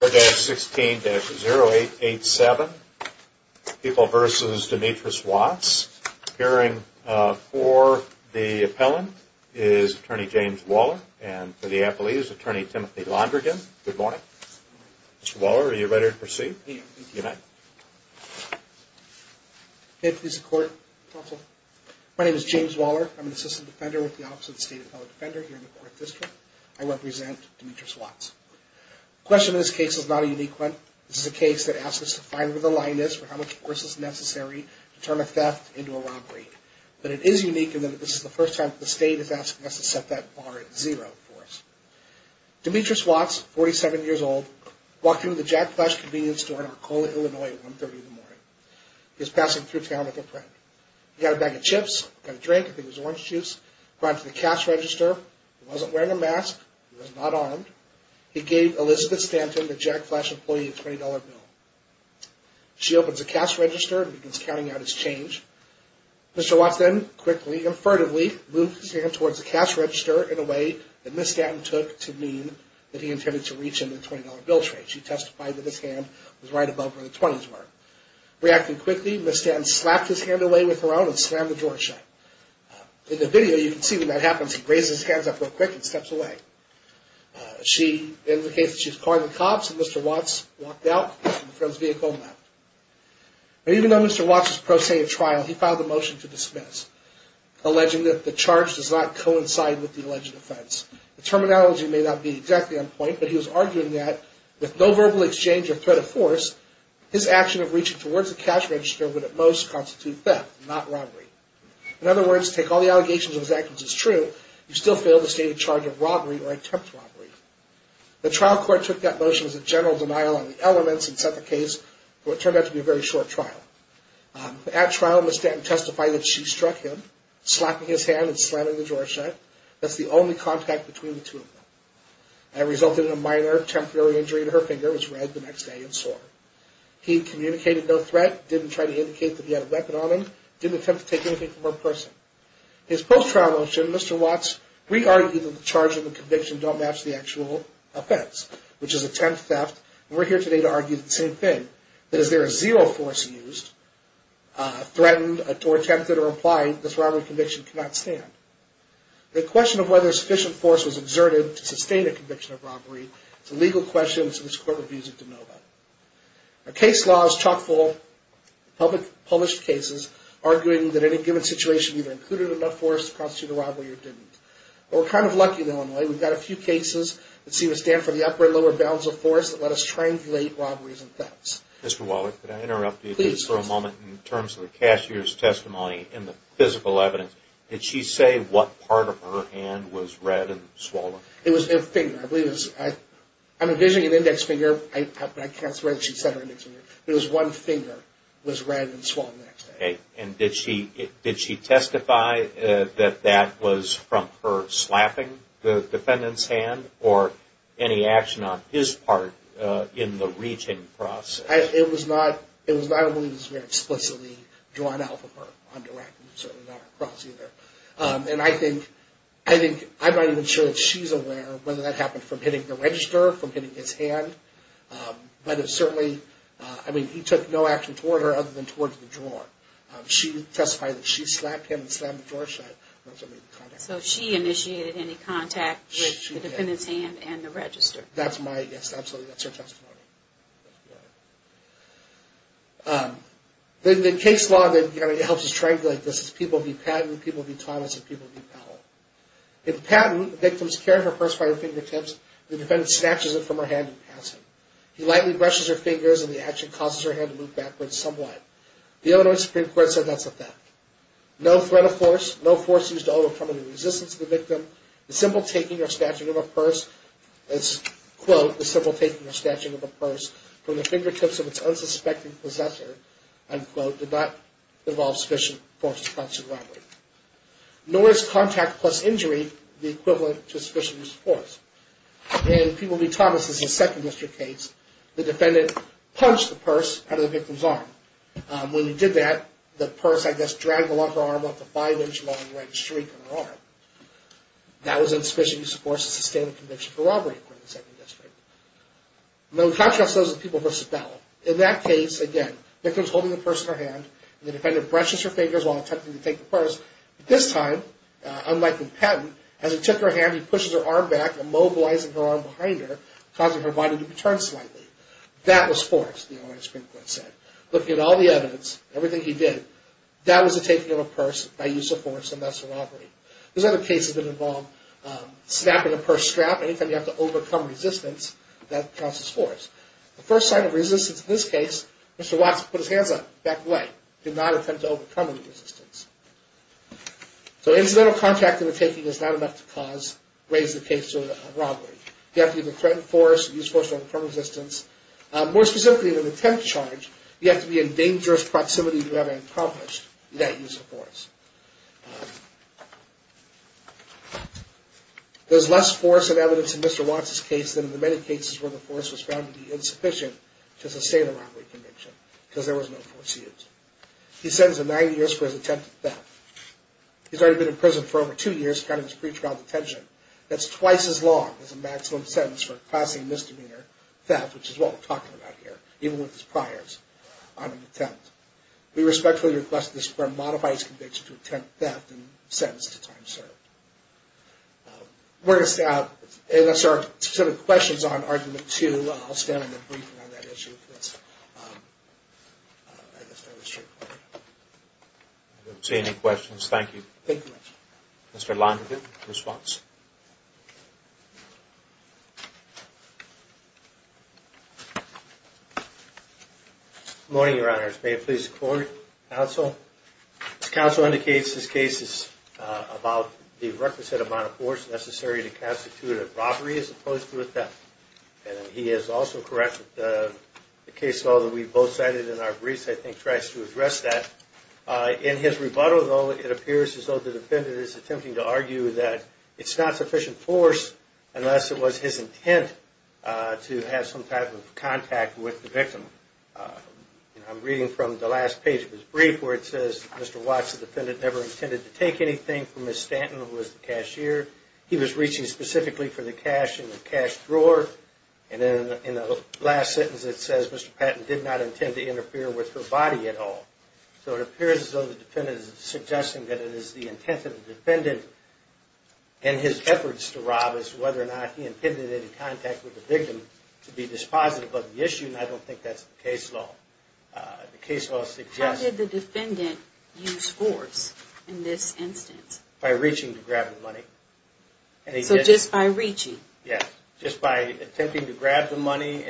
Hearing 4-16-0887, People v. Demetrius Watts, appearing for the appellant is Attorney James Waller and for the appellee is Attorney Timothy Londrigan. Good morning. Mr. Waller, are you ready to proceed? Good morning. My name is James Waller. I'm an assistant defender with the Office of the State Appellate Defender here in the 4th District. I represent Demetrius Watts. The question of this case is not a unique one. This is a case that asks us to find where the line is for how much force is necessary to turn a theft into a robbery. But it is unique in that this is the first time that the state is asking us to set that bar at zero force. Demetrius Watts, 47 years old, walked into the Jack Flash convenience store in Arcola, Illinois at 1.30 in the morning. He was passing through town with a friend. He got a bag of chips, got a drink, I think it was orange juice, brought it to the cash register. He wasn't wearing a mask. He was not armed. He gave Elizabeth Stanton, the Jack Flash employee, a $20 bill. She opens the cash register and begins counting out his change. Mr. Watts then quickly and furtively moves his hand towards the cash register in a way that Ms. Stanton took to mean that he intended to reach into the $20 bill tray. She testified that his hand was right above where the 20s were. Reacting quickly, Ms. Stanton slapped his hand away with her own and slammed the drawer shut. In the video, you can see when that happens, he raises his hands up real quick and steps away. She indicates that she's calling the cops and Mr. Watts walked out and the friend's vehicle left. Even though Mr. Watts is pro-stated trial, he filed a motion to dismiss, alleging that the charge does not coincide with the alleged offense. The terminology may not be exactly on point, but he was arguing that with no verbal exchange or threat of force, his action of reaching towards the cash register would at most constitute theft, not robbery. In other words, take all the allegations of his actions as true, you still fail to state a charge of robbery or attempt robbery. The trial court took that motion as a general denial on the elements and set the case for what turned out to be a very short trial. At trial, Ms. Stanton testified that she struck him, slapping his hand and slamming the drawer shut. That's the only contact between the two of them. That resulted in a minor temporary injury to her finger, which was red the next day and sore. He communicated no threat, didn't try to indicate that he had a weapon on him, didn't attempt to take anything from her person. In his post-trial motion, Mr. Watts re-argued that the charge and the conviction don't match the actual offense, which is attempt theft, and we're here today to argue the same thing, that as there is zero force used, threatened, attempted or implied, this robbery conviction cannot stand. The question of whether sufficient force was exerted to sustain a conviction of robbery is a legal question, and so this court reviews it to know that. Our case law is chock full of public published cases arguing that any given situation either included enough force to constitute a robbery or didn't. We're kind of lucky in Illinois. We've got a few cases that seem to stand for the upper and lower bounds of force that let us translate robberies and thefts. Mr. Waller, could I interrupt you for a moment in terms of the cashier's testimony and the physical evidence? Did she say what part of her hand was red and swollen? It was her finger. I'm envisioning an index finger, but I can't swear that she said her index finger. It was one finger that was red and swollen the next day. Okay. And did she testify that that was from her slapping the defendant's hand or any action on his part in the reaching process? It was not, I don't believe it was very explicitly drawn out from her on direct, certainly not across either. And I think, I'm not even sure if she's aware whether that happened from hitting the register, from hitting his hand, but it certainly, I mean, he took no action toward her other than towards the drawer. She testified that she slapped him and slammed the drawer shut. So she initiated any contact with the defendant's hand and the register? That's my, yes, absolutely, that's her testimony. The case law that helps us translate this is People v. Patton, People v. Thomas, and People v. Powell. In Patton, the victim is carried on her purse by her fingertips. The defendant snatches it from her hand and passes it. He lightly brushes her fingers and the action causes her hand to move backwards somewhat. The Illinois Supreme Court said that's a theft. No threat of force, no force used to overcome the resistance of the victim, the simple taking or snatching of a purse, quote, the simple taking or snatching of a purse from the fingertips of its unsuspecting possessor, unquote, did not involve sufficient force to constitute a robbery. Nor is contact plus injury the equivalent to sufficient use of force. In People v. Thomas' second district case, the defendant punched the purse out of the victim's arm. When he did that, the purse, I guess, dragged along her arm with a five-inch long red streak on her arm. That was insufficient use of force to sustain a conviction for robbery in the second district. Now, we contrast those with People v. Powell. In that case, again, the victim is holding the purse in her hand. The defendant brushes her fingers while attempting to take the purse. This time, unlike with Patton, as he took her hand, he pushes her arm back, immobilizing her arm behind her, causing her body to turn slightly. That was force, the Illinois Supreme Court said. Looking at all the evidence, everything he did, that was the taking of a purse by use of force, and that's a robbery. There's other cases that involve snapping a purse strap. Anytime you have to overcome resistance, that causes force. The first sign of resistance in this case, Mr. Watson put his hands up, backed away, did not attempt to overcome any resistance. So incidental contact in the taking is not enough to cause, raise the case to a robbery. You have to either threaten force or use force to overcome resistance. More specifically, in an attempt charge, you have to be in dangerous proximity to have accomplished that use of force. There's less force and evidence in Mr. Watson's case than in the many cases where the force was found to be insufficient to sustain a robbery conviction, because there was no force used. He's sentenced to 90 years for his attempted theft. He's already been in prison for over two years, counting his pretrial detention. That's twice as long as a maximum sentence for causing misdemeanor theft, which is what we're talking about here, even with his priors on an attempt. We respectfully request that this court modify his conviction to attempt theft and sentence to time served. That's our questions on Argument 2. I'll stand in the briefing on that issue. I don't see any questions. Thank you. Mr. London, response. Good morning, Your Honors. May it please the court, counsel. As counsel indicates, this case is about the requisite amount of force necessary to constitute a robbery as opposed to a theft. He is also correct that the case law that we both cited in our briefs, I think, tries to address that. In his rebuttal, though, it appears as though the defendant is attempting to argue that it's not sufficient force unless it was his intent to have some type of contact with the victim. I'm reading from the last page of his brief where it says, Mr. Watts, the defendant, never intended to take anything from Ms. Stanton, who was the cashier. He was reaching specifically for the cash in the cash drawer. In the last sentence, it says Mr. Patton did not intend to interfere with her body at all. So it appears as though the defendant is suggesting that it is the intent of the defendant and his efforts to rob us whether or not he intended any contact with the victim to be dispositive of the issue. I don't think that's the case law. The case law suggests... How did the defendant use force in this instance? By reaching to grab the money. So just by reaching? Yes, just by attempting to grab the money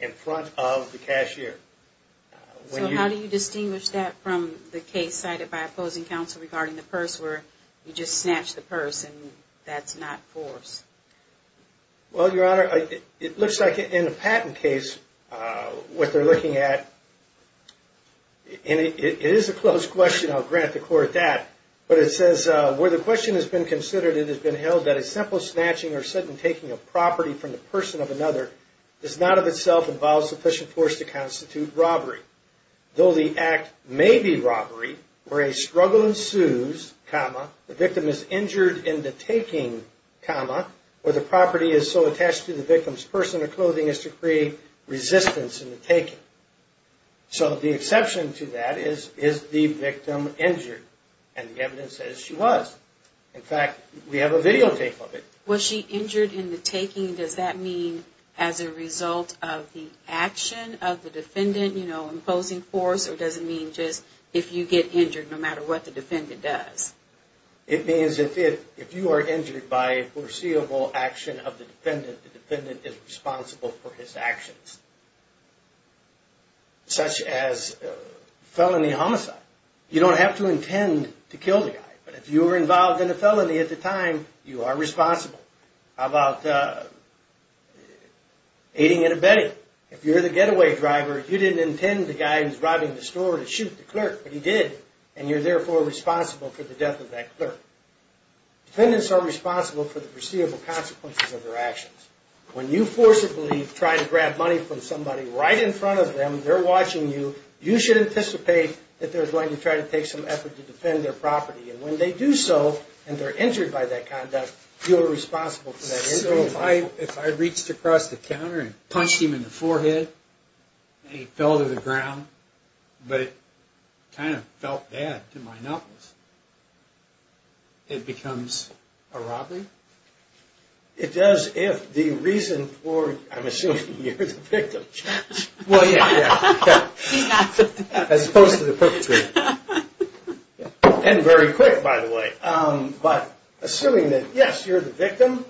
in front of the cashier. So how do you distinguish that from the case cited by opposing counsel regarding the purse where you just snatch the purse and that's not force? Well, Your Honor, it looks like in the Patton case, what they're looking at... It is a close question. I'll grant the court that. But it says where the question has been considered, it has been held that a simple snatching or sudden taking of property from the person of another does not of itself involve sufficient force to constitute robbery. Though the act may be robbery, where a struggle ensues, the victim is injured in the taking, where the property is so attached to the victim's person or clothing as to create resistance in the taking. So the exception to that is, is the victim injured? And the evidence says she was. In fact, we have a videotape of it. Was she injured in the taking? Does that mean as a result of the action of the defendant, you know, imposing force? Or does it mean just if you get injured no matter what the defendant does? It means if you are injured by a foreseeable action of the defendant, the defendant is responsible for his actions, such as felony homicide. You don't have to intend to kill the guy. But if you were involved in a felony at the time, you are responsible. How about aiding and abetting? If you're the getaway driver, you didn't intend the guy who was robbing the store to shoot the clerk, but he did. And you're therefore responsible for the death of that clerk. Defendants are responsible for the foreseeable consequences of their actions. When you forcibly try to grab money from somebody right in front of them, they're watching you. You should anticipate that they're going to try to take some effort to defend their property. And when they do so, and they're injured by that conduct, you're responsible for that injury. So if I reached across the counter and punched him in the forehead, and he fell to the ground, but it kind of felt bad to my knuckles, it becomes a robbery? It does if the reason for, I'm assuming you're the victim, as opposed to the perpetrator. And very quick, by the way, but assuming that, yes, you're the victim,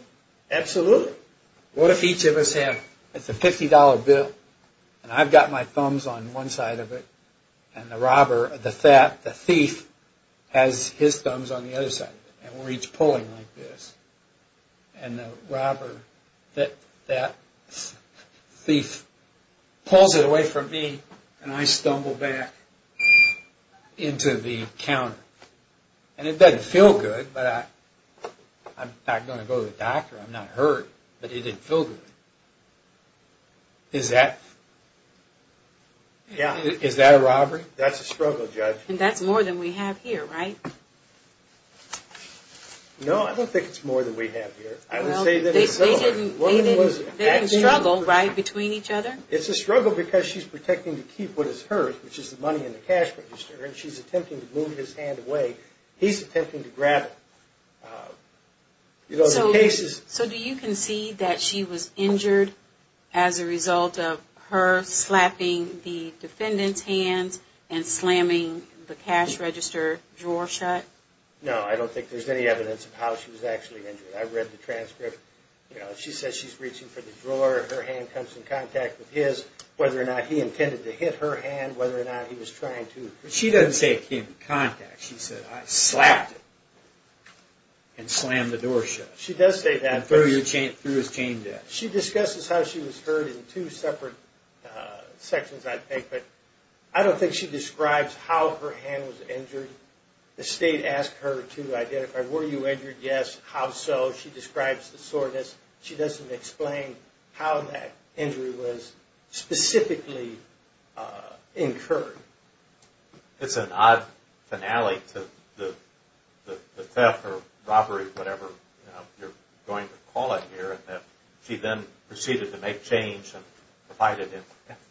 absolutely. What if each of us have, it's a $50 bill, and I've got my thumbs on one side of it, and the robber, the thief, has his thumbs on the other side of it, and we're each pulling like this. And the robber, that thief, pulls it away from me, and I stumble back into the counter. And it doesn't feel good, but I'm not going to go to the doctor, I'm not hurt, but it didn't feel good. Is that a robbery? That's a struggle, Judge. And that's more than we have here, right? No, I don't think it's more than we have here. They didn't struggle, right, between each other? It's a struggle because she's protecting to keep what is hers, which is the money in the cash register, and she's attempting to move his hand away. He's attempting to grab it. So do you concede that she was injured as a result of her slapping the defendant's hands and slamming the cash register drawer shut? No, I don't think there's any evidence of how she was actually injured. I read the transcript. She says she's reaching for the drawer, her hand comes in contact with his, whether or not he intended to hit her hand, whether or not he was trying to. She doesn't say it came in contact. She said, I slapped it and slammed the door shut. She does say that. And threw his chain down. She discusses how she was hurt in two separate sections, I think, but I don't think she describes how her hand was injured. The state asked her to identify, were you injured? Yes, how so? She describes the soreness. She doesn't explain how that injury was specifically incurred. It's an odd finale to the theft or robbery, whatever you're going to call it here, that she then proceeded to make change and provided him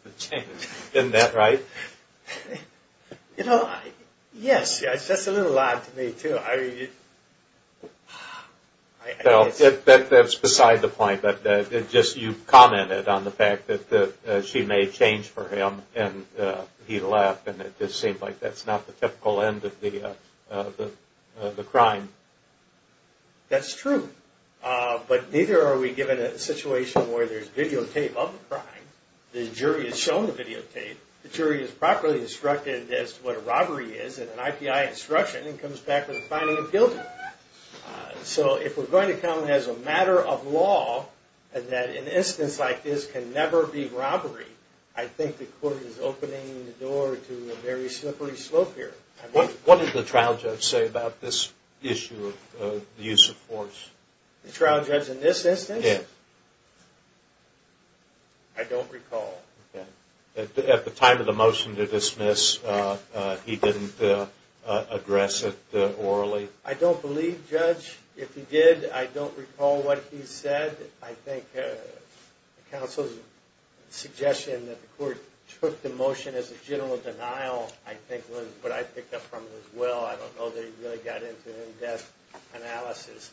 with the chain. Isn't that right? You know, yes. That's a little odd to me, too. That's beside the point. You commented on the fact that she made change for him and he left and it just seemed like that's not the typical end of the crime. That's true. But neither are we given a situation where there's videotape of the crime, the jury is shown the videotape, the jury is properly instructed as to what a robbery is, and an IPI instruction comes back with a finding of guilt. So if we're going to come as a matter of law and that an instance like this can never be robbery, I think the court is opening the door to a very slippery slope here. What did the trial judge say about this issue of the use of force? The trial judge in this instance? Yes. I don't recall. At the time of the motion to dismiss, he didn't address it orally? I don't believe, Judge. If he did, I don't recall what he said. I think counsel's suggestion that the court took the motion as a general denial I think was what I picked up from as well. I don't know that he really got into an in-depth analysis.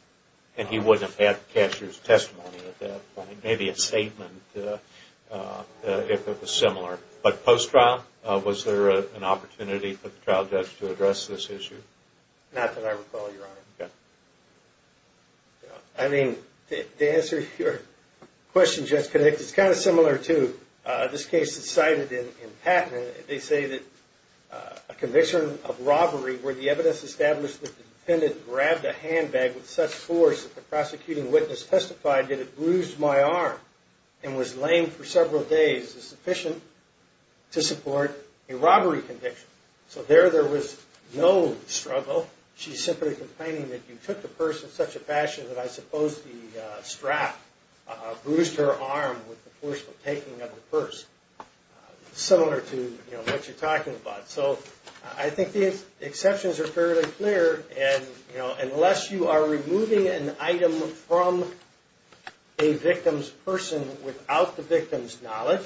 And he wouldn't have had the cashier's testimony at that point, maybe a statement if it was similar. But post-trial, was there an opportunity for the trial judge to address this issue? Not that I recall, Your Honor. Okay. I mean, to answer your question, Judge, it's kind of similar to this case that's cited in Patent. They say that a conviction of robbery where the evidence established that the defendant grabbed a handbag with such force that the prosecuting witness testified that it bruised my arm and was lame for several days is sufficient to support a robbery conviction. So there, there was no struggle. She's simply complaining that you took the purse in such a fashion that I suppose the strap bruised her arm with the forceful taking of the purse. Similar to, you know, what you're talking about. So I think the exceptions are fairly clear and, you know, unless you are removing an item from a victim's person without the victim's knowledge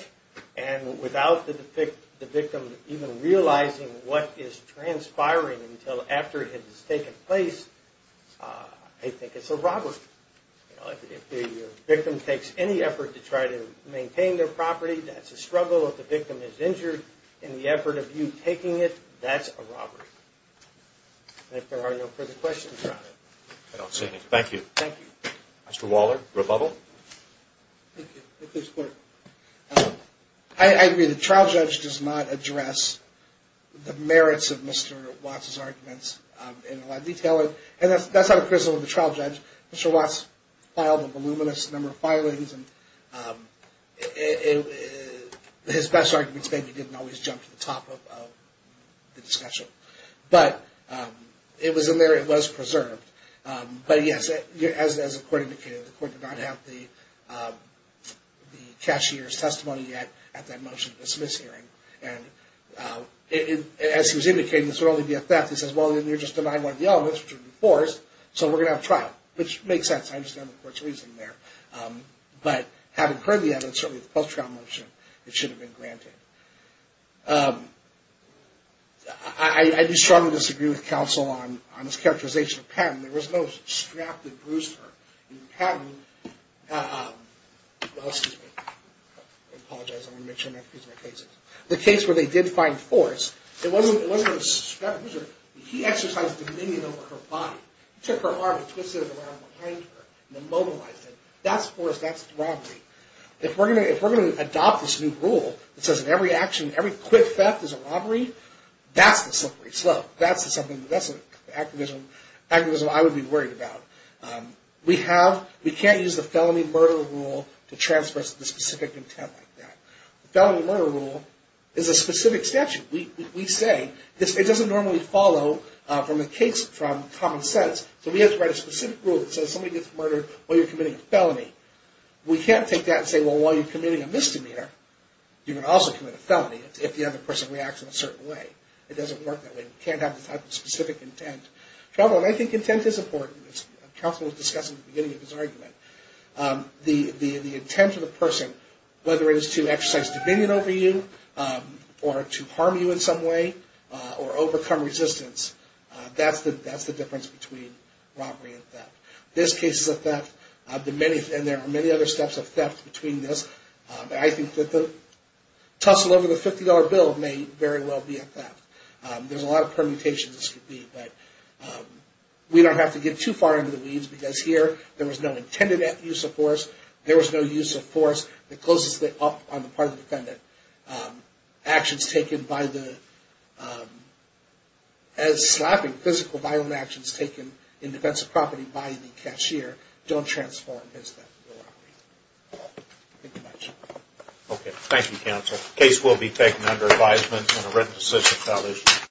and without the victim even realizing what is transpiring until after it has taken place, I think it's a robbery. You know, if the victim takes any effort to try to maintain their property, that's a struggle. If the victim is injured in the effort of you taking it, that's a robbery. And if there are no further questions, Your Honor, I don't see any. Thank you. Thank you. Mr. Waller, rebuttal. Thank you. I agree. The trial judge does not address the merits of Mr. Watts' arguments in a lot of detail. And that's not a criticism of the trial judge. Mr. Watts filed a voluminous number of filings and his best arguments maybe didn't always jump to the top of the discussion. But it was in there. It was preserved. But yes, as the court indicated, the court did not have the cashier's testimony yet at that motion dismiss hearing. And as he was indicating, this would only be a theft. He says, well, then you're just denying one of the elements, which would be forced. So we're going to have a trial, which makes sense. I understand the court's reasoning there. But having heard the evidence, certainly the post-trial motion, it should have been granted. I do strongly disagree with counsel on this characterization of Patton. There was no strapped-in bruiser in Patton. Well, excuse me. I apologize. I want to make sure I'm not confusing my cases. The case where they did find force, it wasn't a strapped-in bruiser. He exercised dominion over her body. He took her arm and twisted it around behind her and then mobilized it. That's force. That's robbery. If we're going to adopt this new rule that says in every action, every quick theft is a robbery, that's the slippery slope. That's the activism I would be worried about. We can't use the felony murder rule to transfer us to the specific intent like that. The felony murder rule is a specific statute. We say it doesn't normally follow from common sense. So we have to write a specific rule that says somebody gets murdered while you're committing a felony. We can't take that and say, well, while you're committing a misdemeanor, you can also commit a felony if the other person reacts in a certain way. It doesn't work that way. You can't have the type of specific intent. I think intent is important. Counsel was discussing it at the beginning of his argument. The intent of the person, whether it is to exercise dominion over you or to harm you in some way or overcome resistance, that's the difference between robbery and theft. This case is a theft, and there are many other steps of theft between this. I think that the tussle over the $50 bill may very well be a theft. There's a lot of permutations this could be, but we don't have to get too far into the weeds, because here there was no intended use of force. There was no use of force that closes it up on the part of the defendant. Actions taken by the, as slapping, physical violent actions taken in defense of property by the cashier don't transform his theft of the robbery. Thank you much. Okay. Thank you, counsel. The case will be taken under advisement and a written decision.